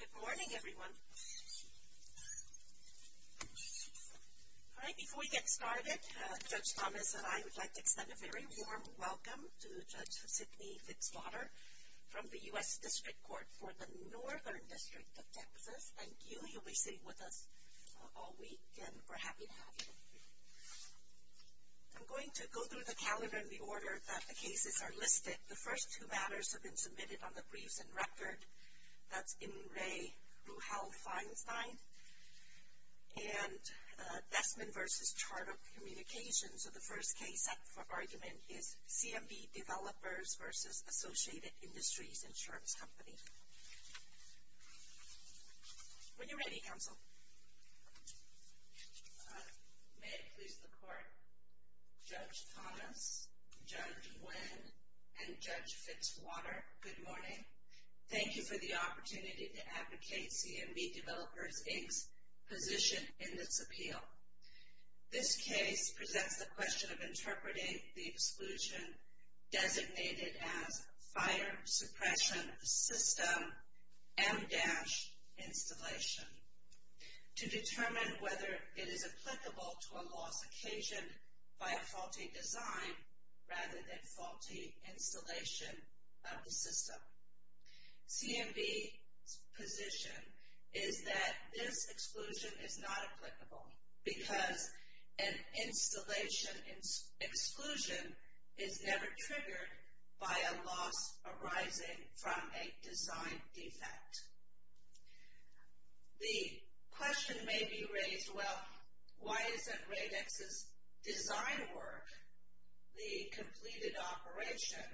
Good morning, everyone. All right, before we get started, Judge Thomas and I would like to extend a very warm welcome to Judge Sidney Fitzpater from the U.S. District Court for the Northern District of Texas. Thank you. You'll be sitting with us all week, and we're happy to have you. I'm going to go through the calendar in the order that the cases are listed. The first two matters have been submitted on the briefs and record. That's In-Rae Ruhal-Feinstein and Desmond v. Charter Communications. So the first case up for argument is CMB Developers v. Associated Industries Insurance Company. When you're ready, counsel. May it please the Court. Judge Thomas, Judge Nguyen, and Judge Fitzwater, good morning. Thank you for the opportunity to advocate CMB Developers, Inc.'s position in this appeal. This case presents the question of interpreting the exclusion designated as Fire Suppression System M-Installation. To determine whether it is applicable to a loss occasioned by a faulty design rather than faulty installation of the system. CMB's position is that this exclusion is not applicable because an installation exclusion is never triggered by a loss arising from a design defect. The question may be raised, well, why isn't Radex's design work the completed operation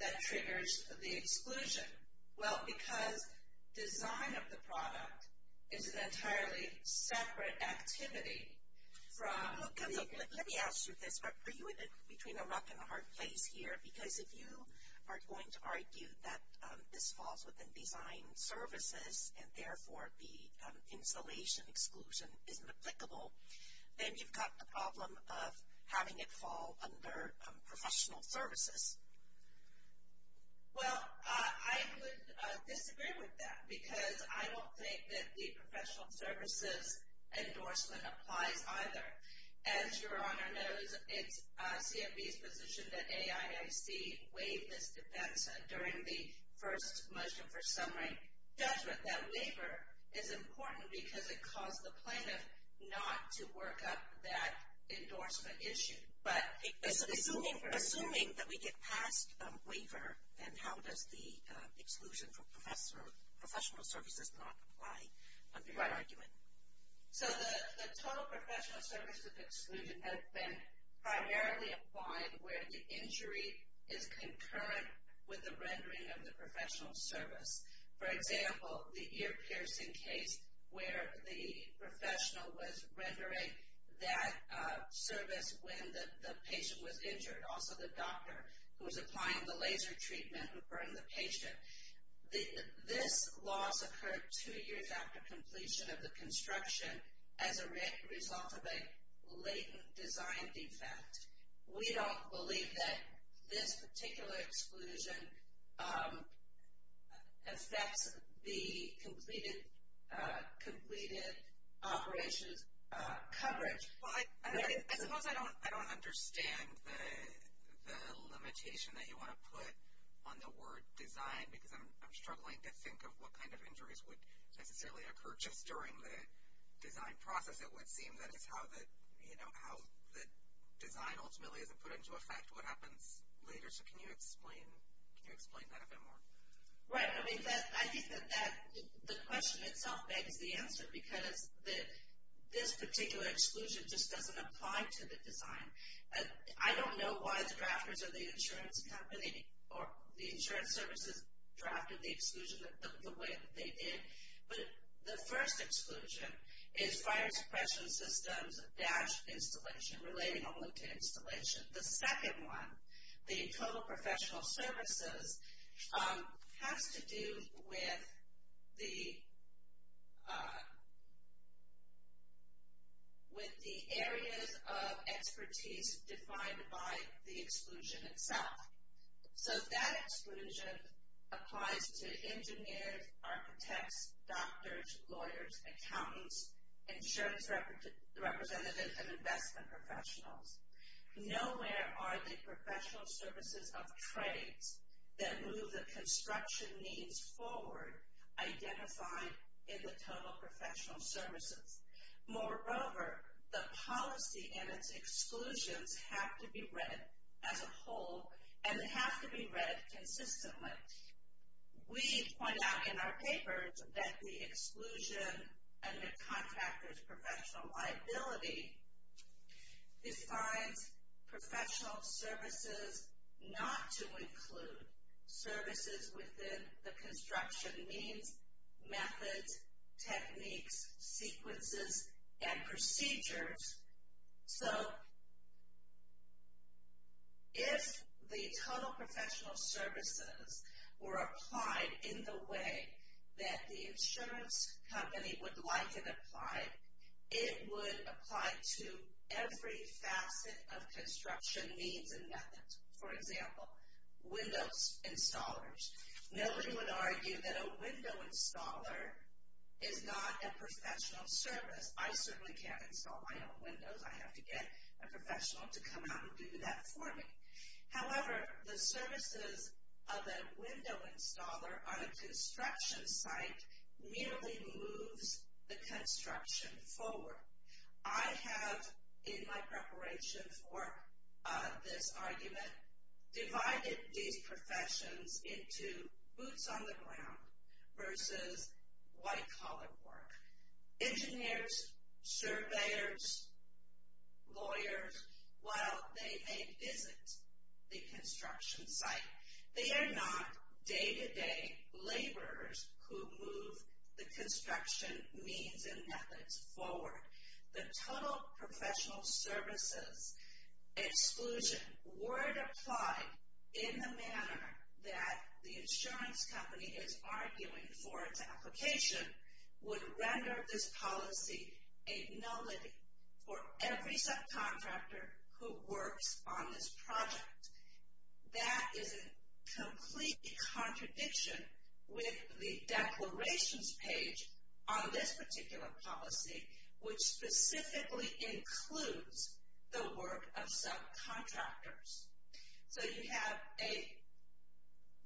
that triggers the exclusion? Well, because design of the product is an entirely separate activity from... Let me ask you this. Are you in between a rock and a hard place here? Because if you are going to argue that this falls within design services and therefore the installation exclusion isn't applicable, then you've got the problem of having it fall under professional services. Well, I would disagree with that because I don't think that the professional services endorsement applies either. As your Honor knows, it's CMB's position that AIIC waived this defense during the first motion for summary judgment. That waiver is important because it caused the plaintiff not to work up that endorsement issue. Assuming that we get past waiver, then how does the exclusion from professional services not apply under your argument? So the total professional services exclusion has been primarily applied where the injury is concurrent with the rendering of the professional service. For example, the ear piercing case where the professional was rendering that service when the patient was injured. Also the doctor who was applying the laser treatment who burned the patient. This loss occurred two years after completion of the construction as a result of a latent design defect. We don't believe that this particular exclusion affects the completed operations coverage. Well, I suppose I don't understand the limitation that you want to put on the word design because I'm struggling to think of what kind of injuries would necessarily occur just during the design process. It would seem that it's how the design ultimately isn't put into effect what happens later. So can you explain that a bit more? Right. I think that the question itself begs the answer because this particular exclusion just doesn't apply to the design. I don't know why the drafters of the insurance company or the insurance services drafted the exclusion the way that they did. But the first exclusion is fire suppression systems dash installation relating only to installation. The second one, the total professional services, has to do with the areas of expertise defined by the exclusion itself. So that exclusion applies to engineers, architects, doctors, lawyers, accountants, insurance representatives, and investment professionals. Nowhere are the professional services of trades that move the construction needs forward identified in the total professional services. Moreover, the policy and its exclusions have to be read as a whole and have to be read consistently. We point out in our papers that the exclusion and the contractor's professional liability defines professional services not to include services within the construction needs, methods, techniques, sequences, and procedures. So if the total professional services were applied in the way that the insurance company would like it applied, it would apply to every facet of construction needs and methods. For example, window installers. Nobody would argue that a window installer is not a professional service. I certainly can't install my own windows. I have to get a professional to come out and do that for me. However, the services of a window installer on a construction site merely moves the construction forward. I have, in my preparation for this argument, divided these professions into boots on the ground versus white-collar work. Engineers, surveyors, lawyers, while they may visit the construction site, they are not day-to-day laborers who move the construction needs and methods forward. The total professional services exclusion were applied in the manner that the insurance company is arguing for its application would render this policy a nullity for every subcontractor who works on this project. That is a complete contradiction with the declarations page on this particular policy, which specifically includes the work of subcontractors. So you have a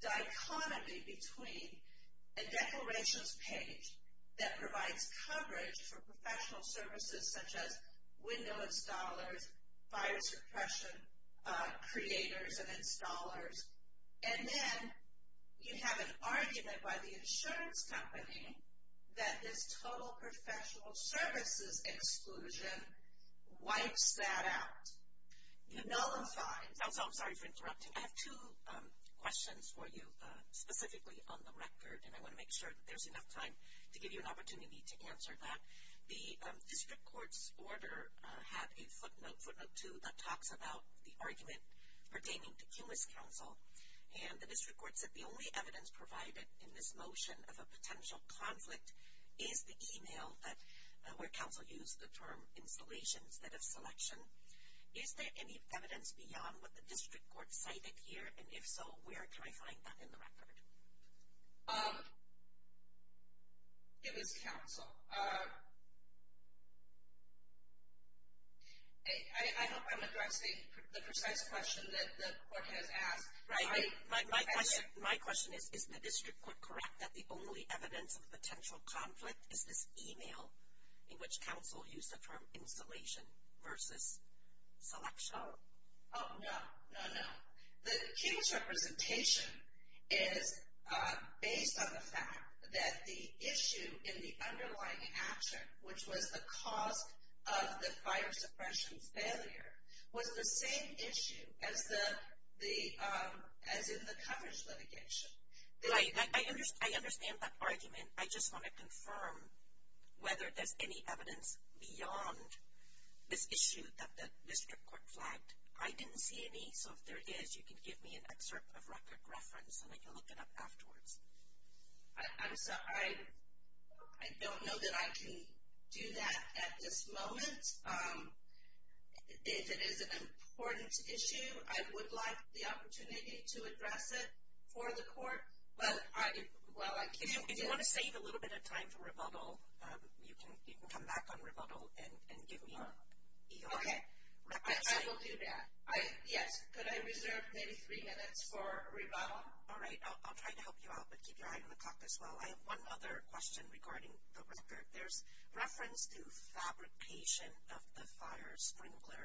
dichotomy between a declarations page that provides coverage for professional services such as window installers, fire suppression creators and installers, and then you have an argument by the insurance company that this total professional services exclusion wipes that out. It nullifies. I'm sorry for interrupting. I have two questions for you specifically on the record, and I want to make sure that there's enough time to give you an opportunity to answer that. The district court's order had a footnote, footnote two, that talks about the argument pertaining to Cumas Council, and the district court said the only evidence provided in this motion of a potential conflict is the e-mail where council used the term installations that have selection. Is there any evidence beyond what the district court cited here, and if so, where can I find that in the record? It was council. I hope I'm addressing the precise question that the court has asked. My question is, is the district court correct that the only evidence of a potential conflict is this e-mail in which council used the term installation versus selection? Oh, no, no, no. The Cumas representation is based on the fact that the issue in the underlying action, which was the cause of the fire suppression's failure, was the same issue as in the coverage litigation. I understand that argument. I just want to confirm whether there's any evidence beyond this issue that the district court flagged. I didn't see any, so if there is, you can give me an excerpt of record reference, and I can look it up afterwards. I'm sorry, I don't know that I can do that at this moment. If it is an important issue, I would like the opportunity to address it for the court, but I can't. If you want to save a little bit of time for rebuttal, you can come back on rebuttal and give me your record. Okay, I will do that. Yes, could I reserve maybe three minutes for rebuttal? All right, I'll try to help you out, but keep your eye on the clock as well. I have one other question regarding the record. There's reference to fabrication of the fire sprinkler,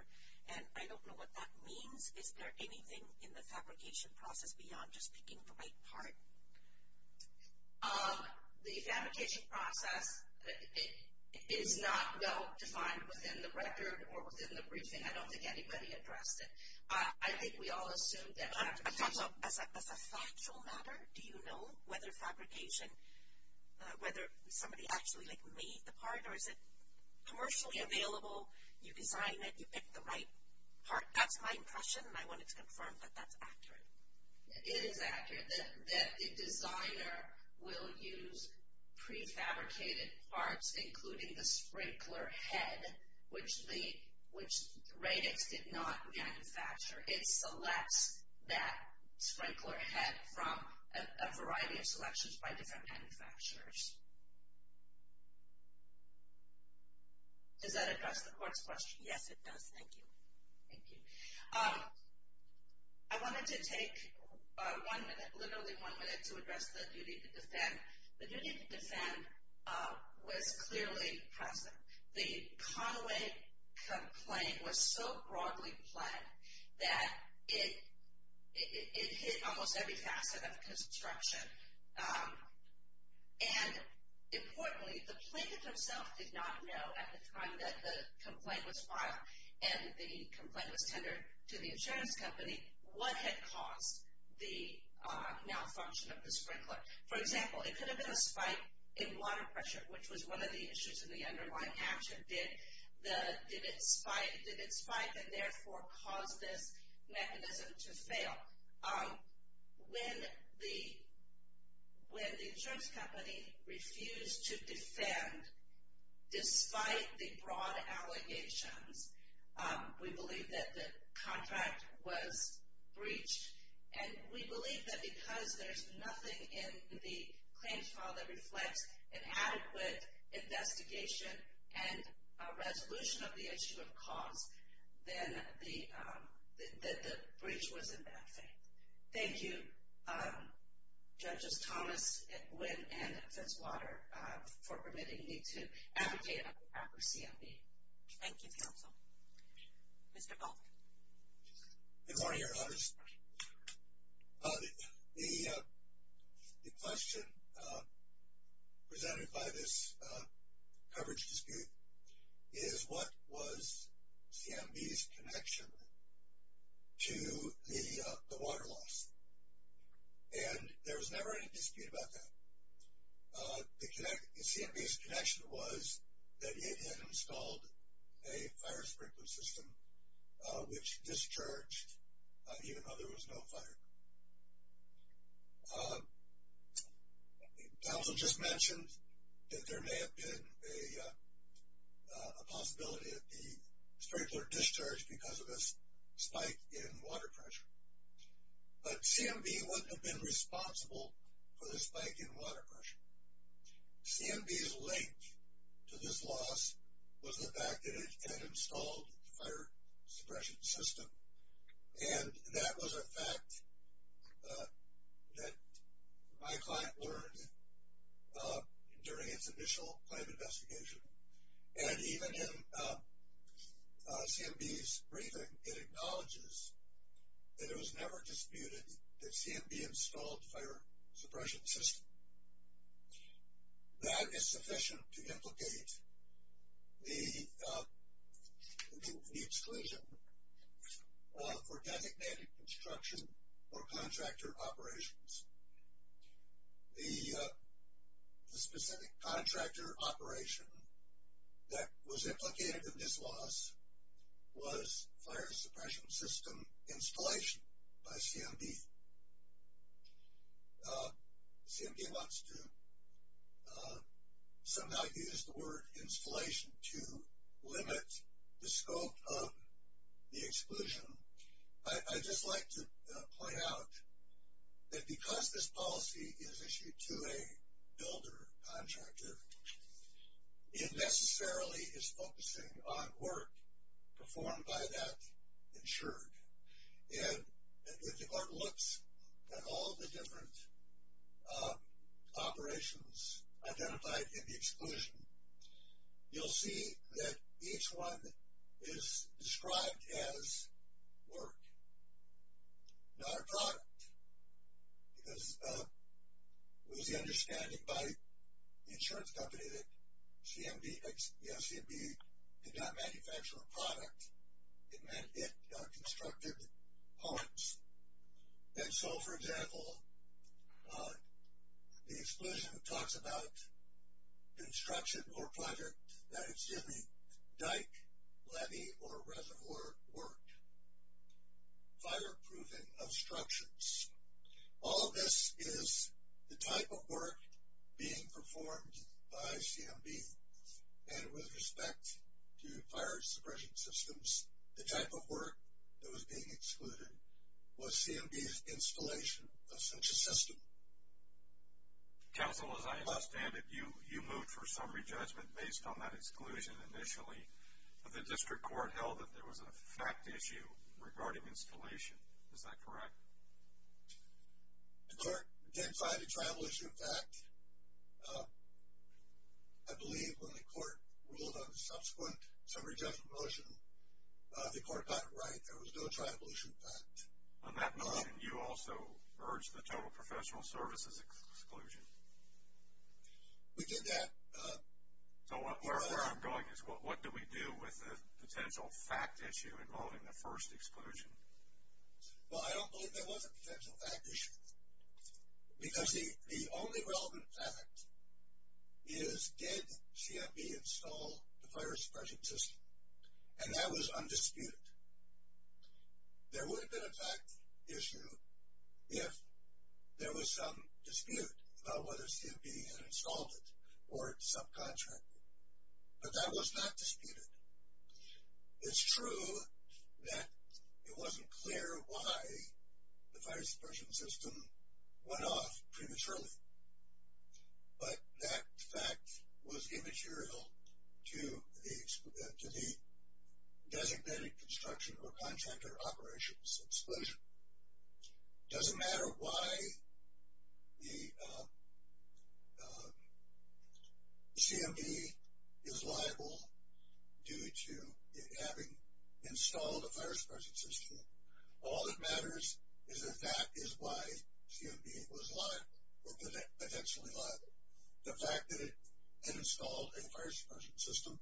and I don't know what that means. Is there anything in the fabrication process beyond just picking the right part? The fabrication process is not well defined within the record or within the briefing. I don't think anybody addressed it. I think we all assumed that. As a factual matter, do you know whether fabrication, whether somebody actually like made the part, or is it commercially available, you design it, you pick the right part? That's my impression, and I wanted to confirm that that's accurate. It is accurate that the designer will use prefabricated parts, including the sprinkler head, which Radix did not manufacture. It selects that sprinkler head from a variety of selections by different manufacturers. Does that address the court's question? Yes, it does. Thank you. Thank you. I wanted to take one minute, literally one minute, to address the duty to defend. The duty to defend was clearly present. The Conaway complaint was so broadly planned that it hit almost every facet of construction, and importantly, the plaintiff himself did not know at the time that the complaint was filed, and the complaint was tendered to the insurance company, what had caused the malfunction of the sprinkler. For example, it could have been a spike in water pressure, which was one of the issues in the underlying action. Did it spike, and therefore cause this mechanism to fail? When the insurance company refused to defend, despite the broad allegations, we believe that the contract was breached, and we believe that because there's nothing in the claims file that reflects an adequate investigation and a resolution of the issue of cause, then the breach was in bad faith. Thank you, Judges Thomas, Nguyen, and Fitzwater, for permitting me to advocate on behalf of CMB. Thank you, counsel. Mr. Baldwin. Good morning, Your Honors. The question presented by this coverage dispute is what was CMB's connection to the water loss, and there was never any dispute about that. CMB's connection was that it had installed a fire sprinkler system, which discharged even though there was no fire. Counsel just mentioned that there may have been a possibility of the sprinkler discharged because of this spike in water pressure, but CMB wouldn't have been responsible for the spike in water pressure. CMB's link to this loss was the fact that it had installed a fire suppression system, and that was a fact that my client learned during its initial claim investigation. And even in CMB's briefing, it acknowledges that it was never disputed that CMB installed a fire suppression system. That is sufficient to implicate the exclusion for designated construction or contractor operations. The specific contractor operation that was implicated in this loss was fire suppression system installation by CMB. CMB wants to somehow use the word installation to limit the scope of the exclusion. I'd just like to point out that because this policy is issued to a builder contractor, it necessarily is focusing on work performed by that insured. And if the court looks at all the different operations identified in the exclusion, you'll see that each one is described as work, not a product. Because it was the understanding by the insurance company that CMB did not manufacture a product. It meant it constructed parts. And so, for example, the exclusion talks about construction or project that is doing dike, levee, or reservoir work. Fireproofing of structures. All of this is the type of work being performed by CMB. And with respect to fire suppression systems, the type of work that was being excluded was CMB's installation of such a system. Counsel, as I understand it, you moved for summary judgment based on that exclusion initially. But the district court held that there was a fact issue regarding installation. Is that correct? The court identified a travel issue fact. I believe when the court ruled on the subsequent summary judgment motion, the court got it right. There was no travel issue fact. On that motion, you also urged the total professional services exclusion. We did that. So where I'm going is what do we do with the potential fact issue involving the first exclusion? Well, I don't believe there was a potential fact issue. Because the only relevant fact is did CMB install the fire suppression system? And that was undisputed. There would have been a fact issue if there was some dispute about whether CMB had installed it or subcontracted. But that was not disputed. It's true that it wasn't clear why the fire suppression system went off prematurely. But that fact was immaterial to the designated construction or contractor operations exclusion. It doesn't matter why the CMB is liable due to it having installed a fire suppression system. All that matters is that that is why CMB was liable or potentially liable. The fact that it installed a fire suppression system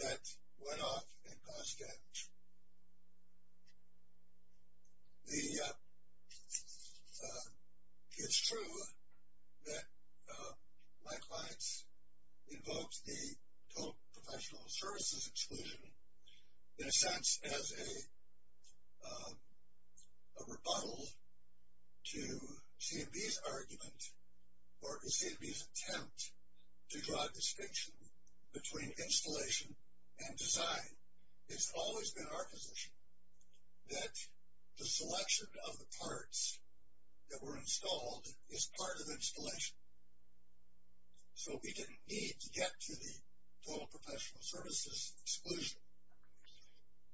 that went off and caused damage. It's true that my clients invoked the total professional services exclusion in a sense as a rebuttal to CMB's argument or CMB's attempt to draw a distinction between installation and design. It's always been our position that the selection of the parts that were installed is part of installation. So we didn't need to get to the total professional services exclusion.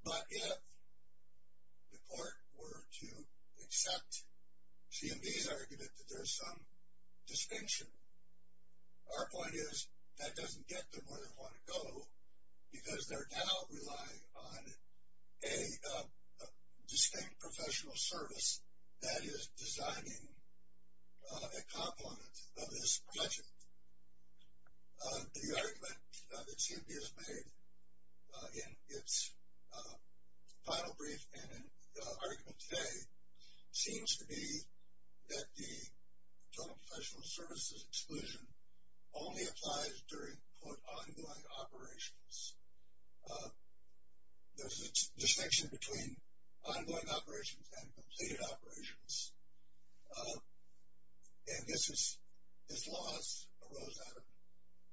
But if the court were to accept CMB's argument that there's some distinction, our point is that doesn't get them where they want to go. Because they're now relying on a distinct professional service that is designing a component of this project. The argument that CMB has made in its final brief and argument today seems to be that the total professional services exclusion only applies during quote ongoing operations. There's a distinction between ongoing operations and completed operations. And this is, this law arose out of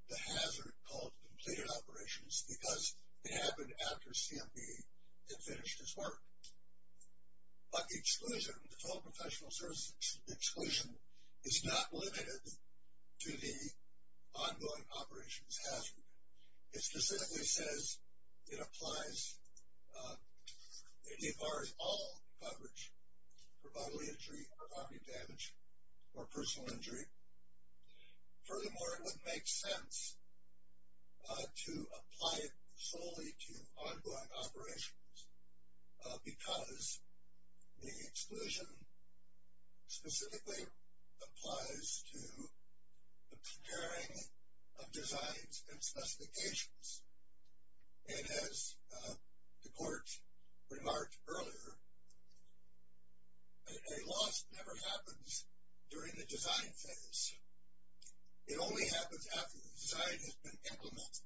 the hazard called completed operations because it happened after CMB had finished its work. But the exclusion, the total professional services exclusion is not limited to the ongoing operations hazard. It specifically says it applies, it debars all coverage for bodily injury or body damage or personal injury. Furthermore, it would make sense to apply it solely to ongoing operations because the exclusion specifically applies to the preparing of designs and specifications. And as the court remarked earlier, a loss never happens during the design phase. It only happens after the design has been implemented.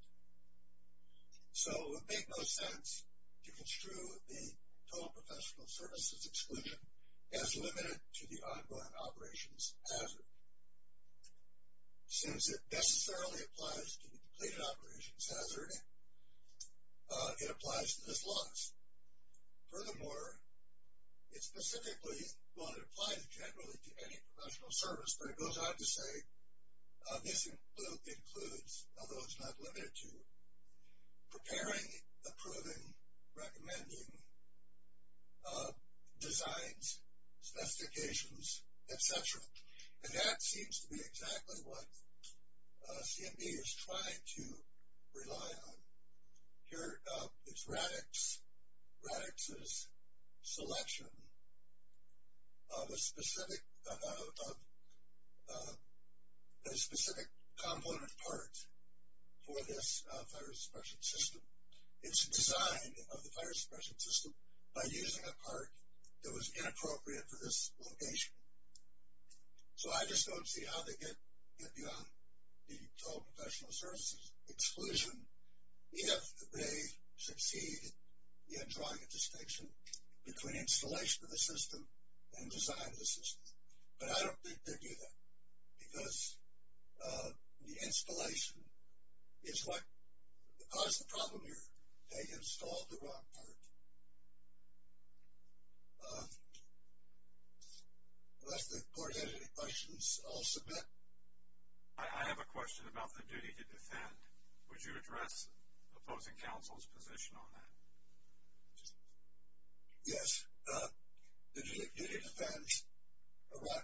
So it would make no sense to construe the total professional services exclusion as limited to the ongoing operations hazard. Since it necessarily applies to the completed operations hazard, it applies to this loss. Furthermore, it specifically, well it applies generally to any professional service, but it goes on to say this includes, although it's not limited to, preparing, approving, recommending designs, specifications, etc. And that seems to be exactly what CMB is trying to rely on. Here is Radix's selection of a specific component part for this fire suppression system. It's a design of the fire suppression system by using a part that was inappropriate for this location. So I just don't see how they get beyond the total professional services exclusion if they succeed in drawing a distinction between installation of the system and design of the system. But I don't think they do that because the installation is what caused the problem here. They installed the wrong part. Unless the court has any questions, I'll submit. I have a question about the duty to defend. Would you address opposing counsel's position on that? Yes. The duty to defend,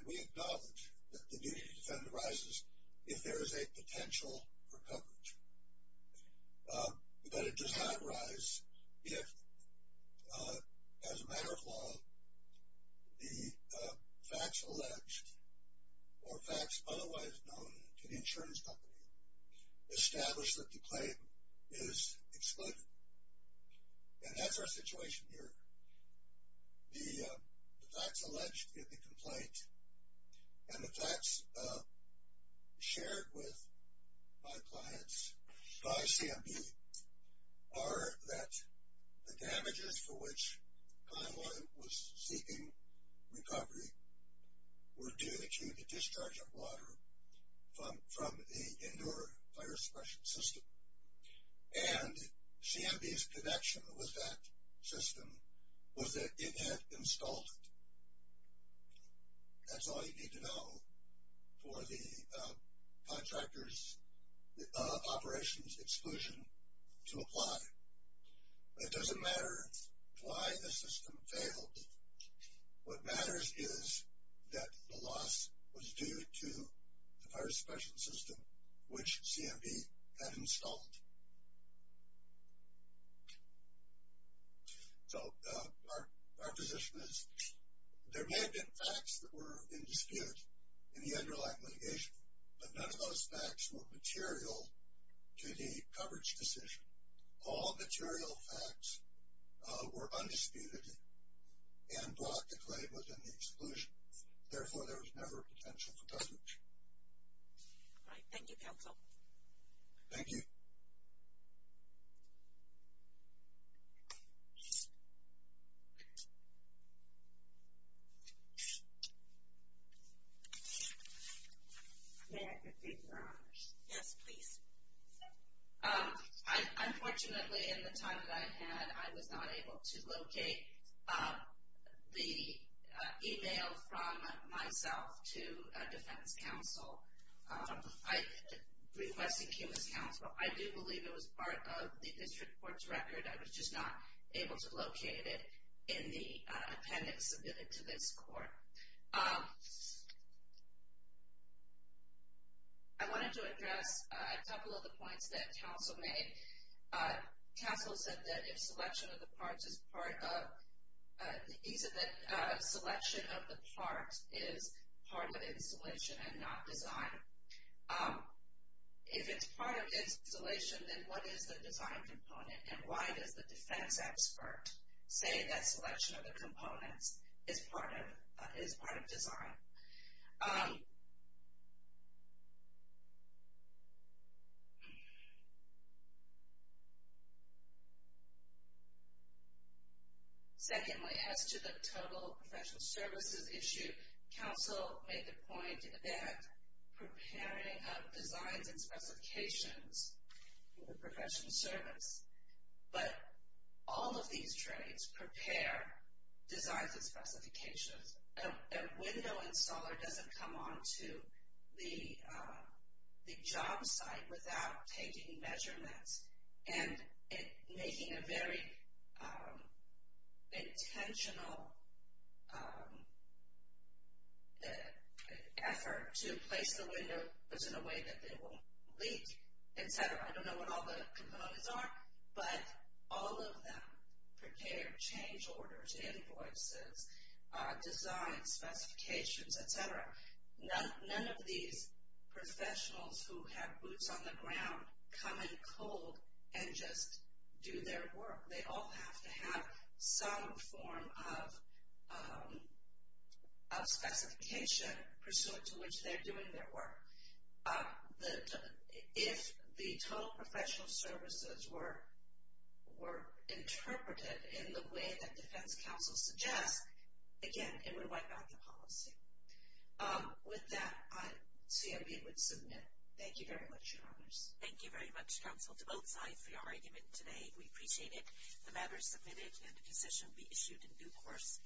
we acknowledge that the duty to defend arises if there is a potential for coverage. But it does not arise if, as a matter of law, the facts alleged or facts otherwise known to the insurance company establish that the claim is excluded. And that's our situation here. The facts alleged in the complaint and the facts shared with my clients by CMB are that the damages for which Conway was seeking recovery were due to the discharge of water from the indoor fire suppression system. And CMB's connection with that system was that it had installed it. That's all you need to know for the contractor's operations exclusion to apply. It doesn't matter why the system failed. What matters is that the loss was due to the fire suppression system which CMB had installed. So our position is there may have been facts that were in dispute in the underlying litigation, but none of those facts were material to the coverage decision. All material facts were undisputed and brought to claim within the exclusion. Therefore, there was never a potential for coverage. All right. Thank you, counsel. May I continue, Your Honor? Yes, please. Unfortunately, in the time that I had, I was not able to locate the email from myself to defense counsel. Requesting he was counsel, I do believe it was part of the district court's record. I was just not able to locate it in the appendix submitted to this court. All right. I wanted to address a couple of the points that counsel made. Counsel said that if selection of the parts is part of, he said that selection of the parts is part of installation and not design. If it's part of installation, then what is the design component, and why does the defense expert say that selection of the components is part of design? Secondly, as to the total professional services issue, counsel made the point that preparing of designs and specifications for professional service, but all of these trades prepare designs and specifications. A window installer doesn't come onto the job site without taking measurements and making a very intentional effort to place the windows in a way that they won't leak, etc. I don't know what all the components are, but all of them prepare change orders, invoices, design specifications, etc. None of these professionals who have boots on the ground come in cold and just do their work. They all have to have some form of specification pursuant to which they're doing their work. If the total professional services were interpreted in the way that defense counsel suggests, again, it would wipe out the policy. With that, I see I'm able to submit. Thank you very much, your honors. Thank you very much, counsel, to both sides for your argument today. We appreciate it. The matter is submitted, and the decision will be issued in due course.